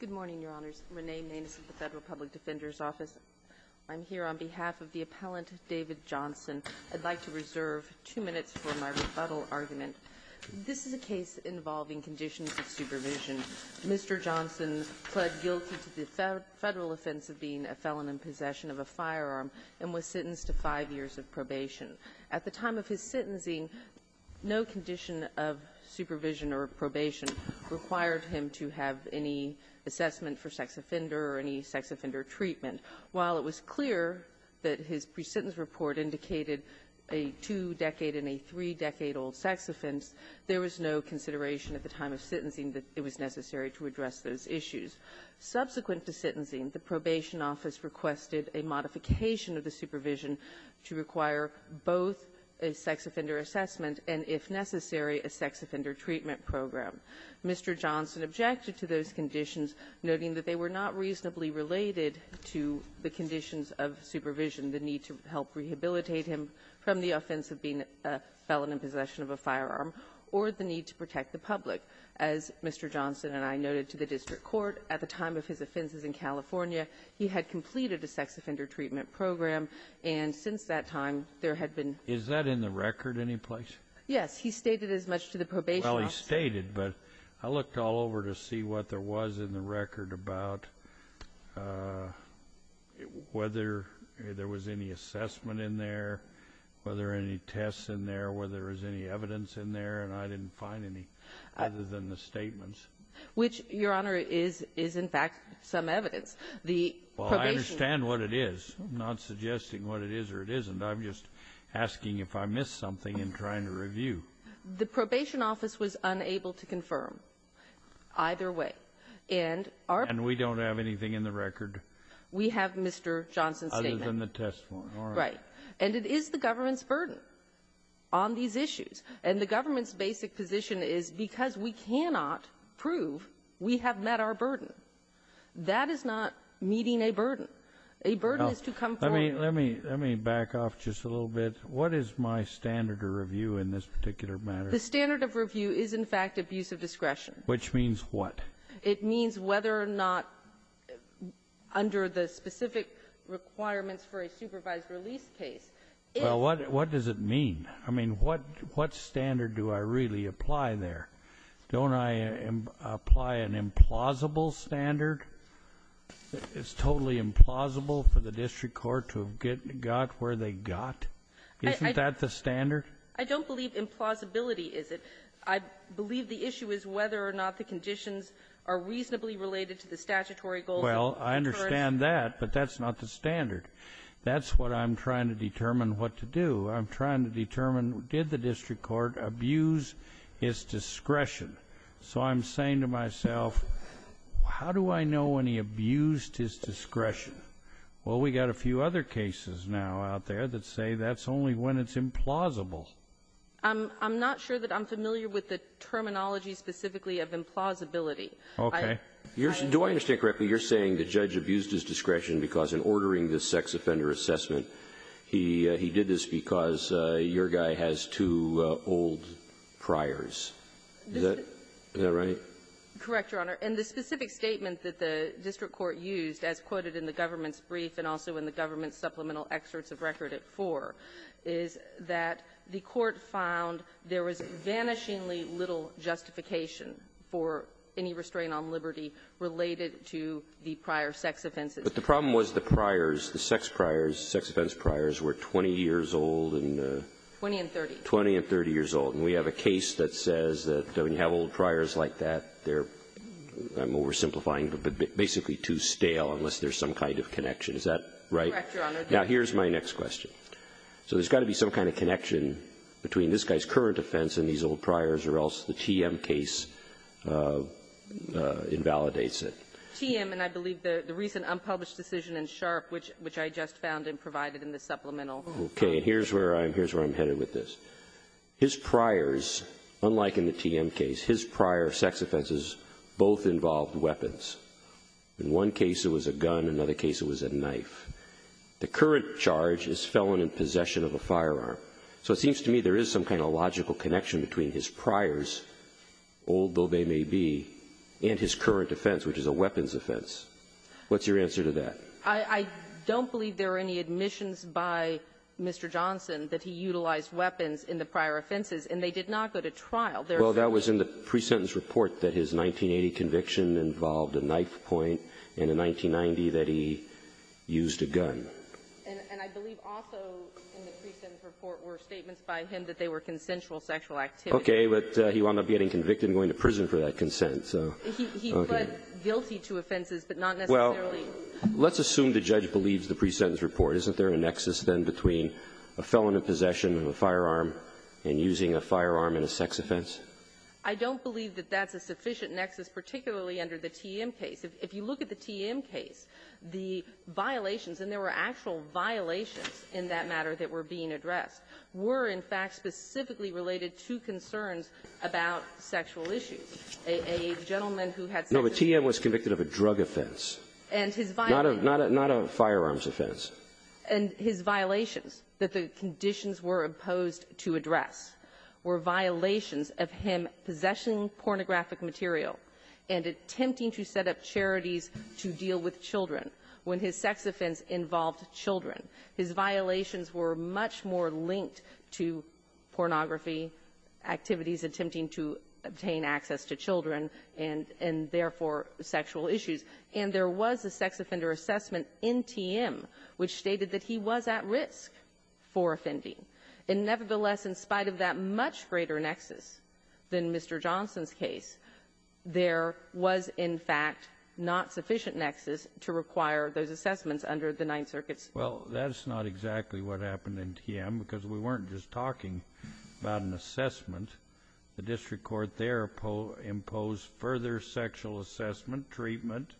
Good morning, Your Honors. Renee Maness at the Federal Public Defender's Office. I'm here on behalf of the appellant, David Johnson. I'd like to reserve two minutes for my rebuttal argument. This is a case involving conditions of supervision. Mr. Johnson pled guilty to the federal offense of being a felon in possession of a firearm and was sentenced to five years of probation. At the time of his sentencing, no condition of supervision or probation required him to have any assessment for sex offender or any sex offender treatment. While it was clear that his presentence report indicated a two-decade and a three-decade-old sex offense, there was no consideration at the time of sentencing that it was necessary to address those issues. Subsequent to sentencing, the probation office requested a modification of the supervision to require both a sex offender assessment and, if necessary, a sex offender treatment program. Mr. Johnson objected to those conditions, noting that they were not reasonably related to the conditions of supervision, the need to help rehabilitate him from the offense of being a felon in possession of a firearm, or the need to protect the public. As Mr. Johnson and I noted to the district court, at the time of his offenses in California, he had completed a sex offender treatment program, and since that time, there had been... Is that in the record any place? Yes. He stated as much to the probation office... Were there any tests in there? Were there any evidence in there? And I didn't find any other than the statements. Which, Your Honor, is, in fact, some evidence. The probation... Well, I understand what it is. I'm not suggesting what it is or it isn't. I'm just asking if I missed something in trying to review. The probation office was unable to confirm either way. And our... And we don't have anything in the record... We have Mr. Johnson's statement. Other than the testimony. Right. And it is the government's burden on these issues. And the government's basic position is, because we cannot prove we have met our burden, that is not meeting a burden. A burden is to confirm... Let me back off just a little bit. What is my standard of review in this particular matter? The standard of review is, in fact, abuse of discretion. Which means what? It means whether or not, under the specific requirements for a supervised release case, if... Well, what does it mean? I mean, what standard do I really apply there? Don't I apply an implausible standard? It's totally implausible for the district court to have got where they got? Isn't that the standard? I don't believe implausibility is it. I believe the issue is whether or not the conditions are reasonably related to the statutory goals... Well, I understand that, but that's not the standard. That's what I'm trying to determine what to do. I'm trying to determine, did the district court abuse his discretion? So I'm saying to myself, how do I know when he abused his discretion? Well, we've got a few other cases now out there that say that's only when it's implausible. I'm not sure that I'm familiar with the terminology specifically of implausibility. Okay. Do I understand correctly, you're saying the judge abused his discretion because in ordering this sex offender assessment, he did this because your guy has two old priors? Is that right? Correct, Your Honor. And the specific statement that the district court used, as quoted in the government's brief and also in the government's supplemental excerpts of record at 4, is that the court found there was vanishingly little justification for any restraint on liberty related to the prior sex offenses. But the problem was the priors, the sex priors, sex offense priors, were 20 years old and... 20 and 30. 20 and 30 years old. And we have a case that says that when you have old priors like that, they're – I'm oversimplifying, but basically too stale unless there's some kind of connection. Is that right? Correct, Your Honor. Now, here's my next question. So there's got to be some kind of connection between this guy's current offense and these old priors, or else the TM case invalidates it. TM, and I believe the recent unpublished decision in Sharp, which I just found and provided in the supplemental. Okay. And here's where I'm headed with this. His priors, unlike in the TM case, his prior sex offenses both involved weapons. In one case it was a gun, in another case it was a knife. The current charge is felon in possession of a firearm. So it seems to me there is some kind of logical connection between his priors, old though they may be, and his current offense, which is a weapons offense. What's your answer to that? I don't believe there are any admissions by Mr. Johnson that he utilized weapons in the prior offenses, and they did not go to trial. Well, that was in the pre-sentence report that his 1980 conviction involved a knife point, and in 1990 that he used a gun. And I believe also in the pre-sentence report were statements by him that they were consensual sexual activity. Okay. But he wound up getting convicted and going to prison for that consent. So, okay. He pled guilty to offenses, but not necessarily. Let's assume the judge believes the pre-sentence report. Isn't there a nexus then between a felon in possession of a firearm and using a firearm in a sex offense? I don't believe that that's a sufficient nexus, particularly under the TM case. If you look at the TM case, the violations, and there were actual violations in that matter that were being addressed, were, in fact, specifically related to concerns about sexual issues. A gentleman who had sex. No, but TM was convicted of a drug offense. And his violations. Not a firearms offense. And his violations that the conditions were imposed to address were violations of him possessing pornographic material and attempting to set up charities to deal with children when his sex offense involved children. His violations were much more linked to pornography activities, attempting to obtain access to children, and, therefore, sexual issues. And there was a sex offender assessment in TM which stated that he was at risk for offending. And, nevertheless, in spite of that much greater nexus than Mr. Johnson's case, there was, in fact, not sufficient nexus to require those assessments under the Ninth Circuit's. Well, that's not exactly what happened in TM, because we weren't just talking about an assessment. The district court there imposed further sexual assessment, treatment,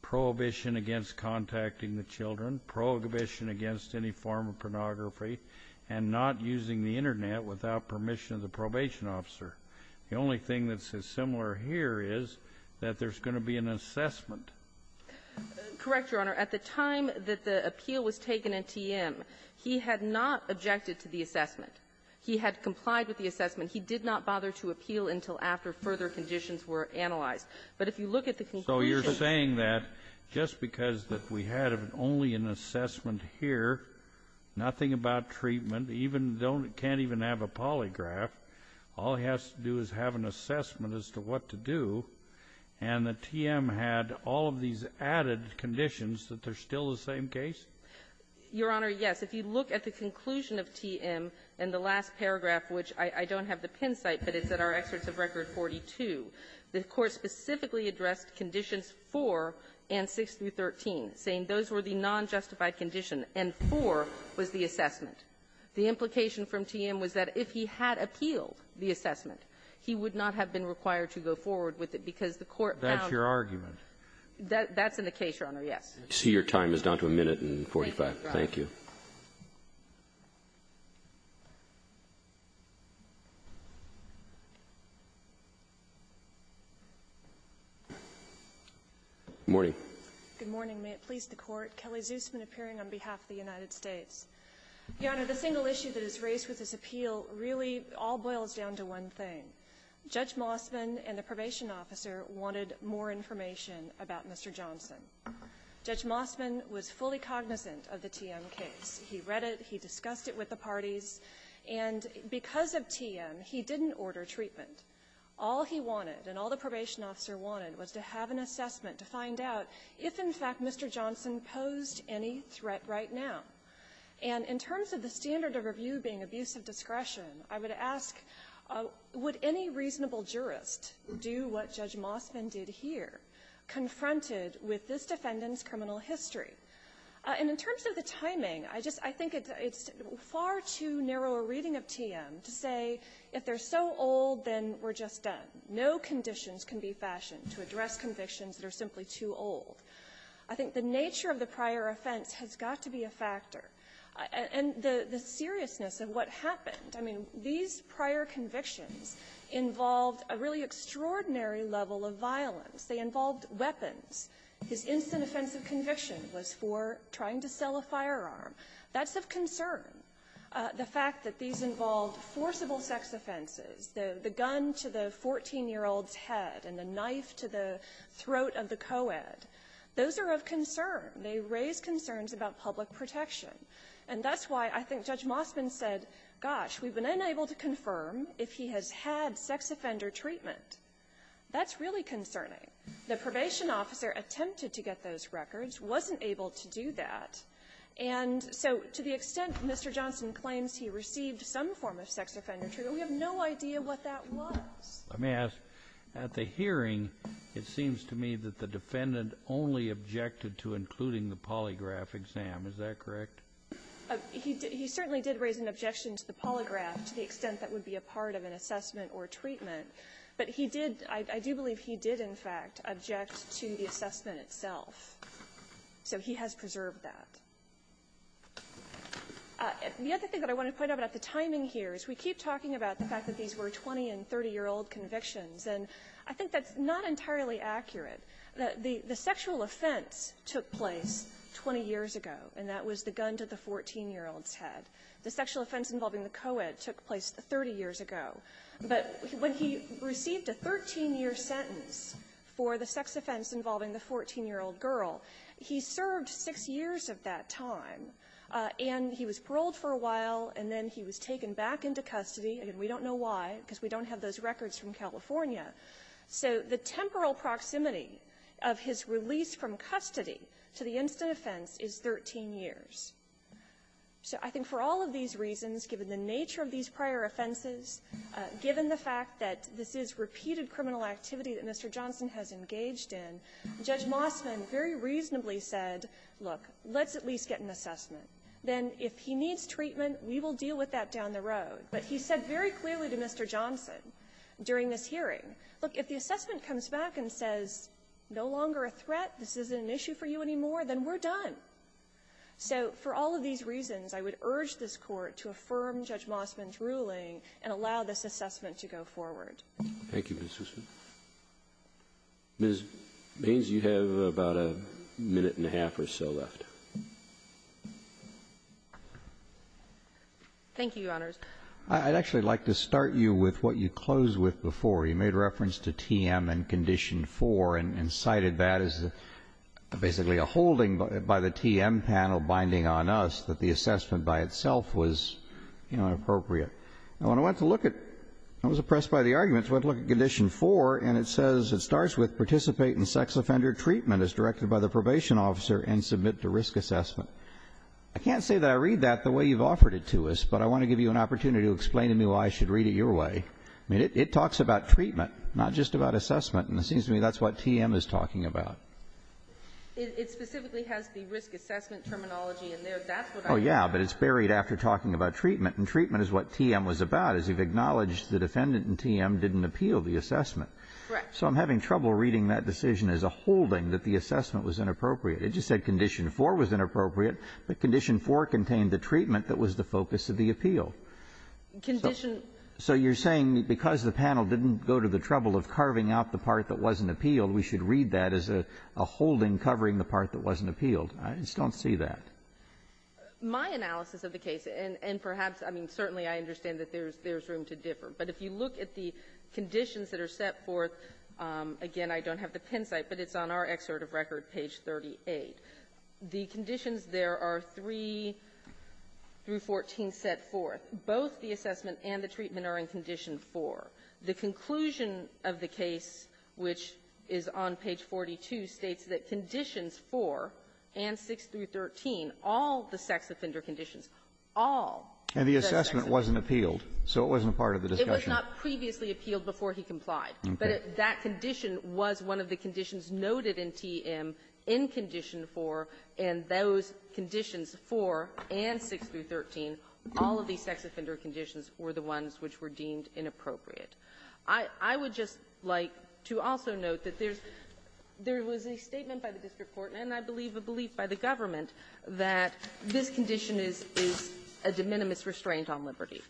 prohibition against contacting the children, prohibition against any form of pornography, and not using the Internet without permission of the probation officer. The only thing that's similar here is that there's going to be an assessment. Correct, Your Honor. At the time that the appeal was taken in TM, he had not objected to the assessment. He had complied with the assessment. He did not bother to appeal until after further conditions were analyzed. But if you look at the conclusion of TM. So you're saying that just because that we had only an assessment here, nothing about treatment, even don't can't even have a polygraph, all he has to do is have an assessment as to what to do, and that TM had all of these added conditions that they're still the same case? Your Honor, yes. If you look at the conclusion of TM in the last paragraph, which I don't have the pin site, but it's at our excerpts of Record 42, the Court specifically addressed conditions 4 and 6 through 13, saying those were the nonjustified condition, and 4 was the assessment. The implication from TM was that if he had appealed the assessment, he would not have been required to go forward with it, because the Court found that's in the case, Your Honor, yes. So your time is down to a minute and 45. Thank you. Good morning. Good morning. May it please the Court. Kelly Zusman appearing on behalf of the United States. Your Honor, the single issue that is raised with this appeal really all boils down to one thing. Judge Mossman and the probation officer wanted more information about Mr. Johnson. Judge Mossman was fully cognizant of the TM case. He read it. He discussed it with the parties. And because of TM, he didn't order treatment. All he wanted and all the probation officer wanted was to have an assessment to find out if, in fact, Mr. Johnson posed any threat right now. And in terms of the standard of review being abuse of discretion, I would ask, would any reasonable jurist do what Judge Mossman did here, confronted with this defendant's criminal history? And in terms of the timing, I just think it's far too narrow a reading of TM to say if they're so old, then we're just done. No conditions can be fashioned to address convictions that are simply too old. I think the nature of the prior offense has got to be a factor. And the seriousness of what happened, I mean, these prior convictions involved a really extraordinary level of violence. They involved weapons. His instant offensive conviction was for trying to sell a firearm. That's of concern. The fact that these involved forcible sex offenses, the gun to the 14-year-old's head and the knife to the throat of the co-ed, those are of concern. They raise concerns about public protection. And that's why I think Judge Mossman said, gosh, we've been unable to confirm if he has had sex offender treatment. That's really concerning. The probation officer attempted to get those records, wasn't able to do that. And so to the extent Mr. Johnson claims he received some form of sex offender treatment, we have no idea what that was. Let me ask, at the hearing, it seems to me that the defendant only objected to including the polygraph exam. Is that correct? He certainly did raise an objection to the polygraph to the extent that would be a part of an assessment or treatment. But he did, I do believe he did, in fact, object to the assessment itself. So he has preserved that. The other thing that I want to point out about the timing here is we keep talking about the fact that these were 20- and 30-year-old convictions, and I think that's not entirely accurate. The sexual offense took place 20 years ago, and that was the gun to the 14-year-old's head. The sexual offense involving the co-ed took place 30 years ago. But when he received a 13-year sentence for the sex offense involving the 14-year-old girl, he served 6 years of that time, and he was paroled for a while, and then he was taken back into custody. And we don't know why, because we don't have those records from California. So the temporal proximity of his release from custody to the instant offense is 13 years. So I think for all of these reasons, given the nature of these prior offenses, given the fact that this is repeated criminal activity that Mr. Johnson has engaged in, Judge Mossman very reasonably said, look, let's at least get an assessment. Then if he needs treatment, we will deal with that down the road. But he said very clearly to Mr. Johnson during this hearing, look, if the assessment comes back and says, no longer a threat, this isn't an issue for you anymore, then we're done. So for all of these reasons, I would urge this Court to affirm Judge Mossman's ruling and allow this assessment to go forward. Thank you, Ms. Hussman. Ms. Baines, you have about a minute and a half or so left. Thank you, Your Honors. I'd actually like to start you with what you closed with before. You made reference to TM and Condition 4 and cited that as basically a holding by the TM panel binding on us that the assessment by itself was, you know, inappropriate. Now, when I went to look at it, I was oppressed by the arguments. I went to look at Condition 4, and it says it starts with participate in sex offender treatment as directed by the probation officer and submit to risk assessment. I can't say that I read that the way you've offered it to us, but I want to give you an opportunity to explain to me why I should read it your way. I mean, it talks about treatment, not just about assessment. And it seems to me that's what TM is talking about. It specifically has the risk assessment terminology in there. That's what I read. Oh, yeah, but it's buried after talking about treatment. And treatment is what TM was about, as you've acknowledged the defendant in TM didn't appeal the assessment. Correct. So I'm having trouble reading that decision as a holding that the assessment was inappropriate. It just said Condition 4 was inappropriate, but Condition 4 contained the treatment that was the focus of the appeal. Condition So you're saying because the panel didn't go to the trouble of carving out the part that wasn't appealed, we should read that as a holding covering the part that wasn't appealed. I just don't see that. My analysis of the case, and perhaps, I mean, certainly I understand that there's room to differ, but if you look at the conditions that are set forth, again, I don't have the pencil, but it's on our excerpt of record, page 38. The conditions there are 3 through 14 set forth. Both the assessment and the treatment are in Condition 4. The conclusion of the case, which is on page 42, states that Conditions 4 and 6 through 13, all the sex offender conditions, all the sex offender conditions. But that wasn't appealed, so it wasn't a part of the discussion. It was not previously appealed before he complied. Okay. But that condition was one of the conditions noted in TM in Condition 4, and those conditions 4 and 6 through 13, all of these sex offender conditions were the ones which were deemed inappropriate. I would just like to also note that there's — there was a statement by the district court, and I believe a belief by the government, that this condition is — is a de minimis restraint on liberty.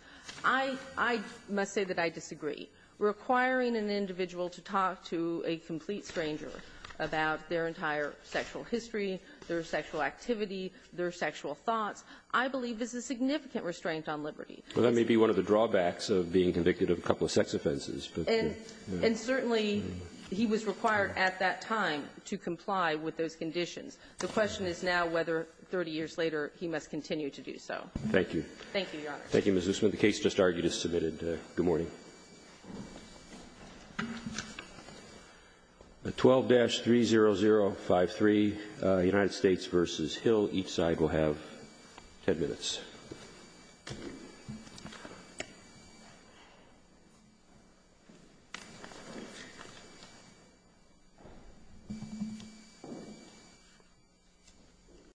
I — I must say that I disagree. Requiring an individual to talk to a complete stranger about their entire sexual history, their sexual activity, their sexual thoughts, I believe is a significant restraint on liberty. Well, that may be one of the drawbacks of being convicted of a couple of sex offenses. And certainly, he was required at that time to comply with those conditions. The question is now whether, 30 years later, he must continue to do so. Thank you. Thank you, Your Honor. Thank you, Ms. Loosman. The case just argued is submitted. Good morning. 12-30053, United States v. Hill. Each side will have 10 minutes. Thank you, Your Honor.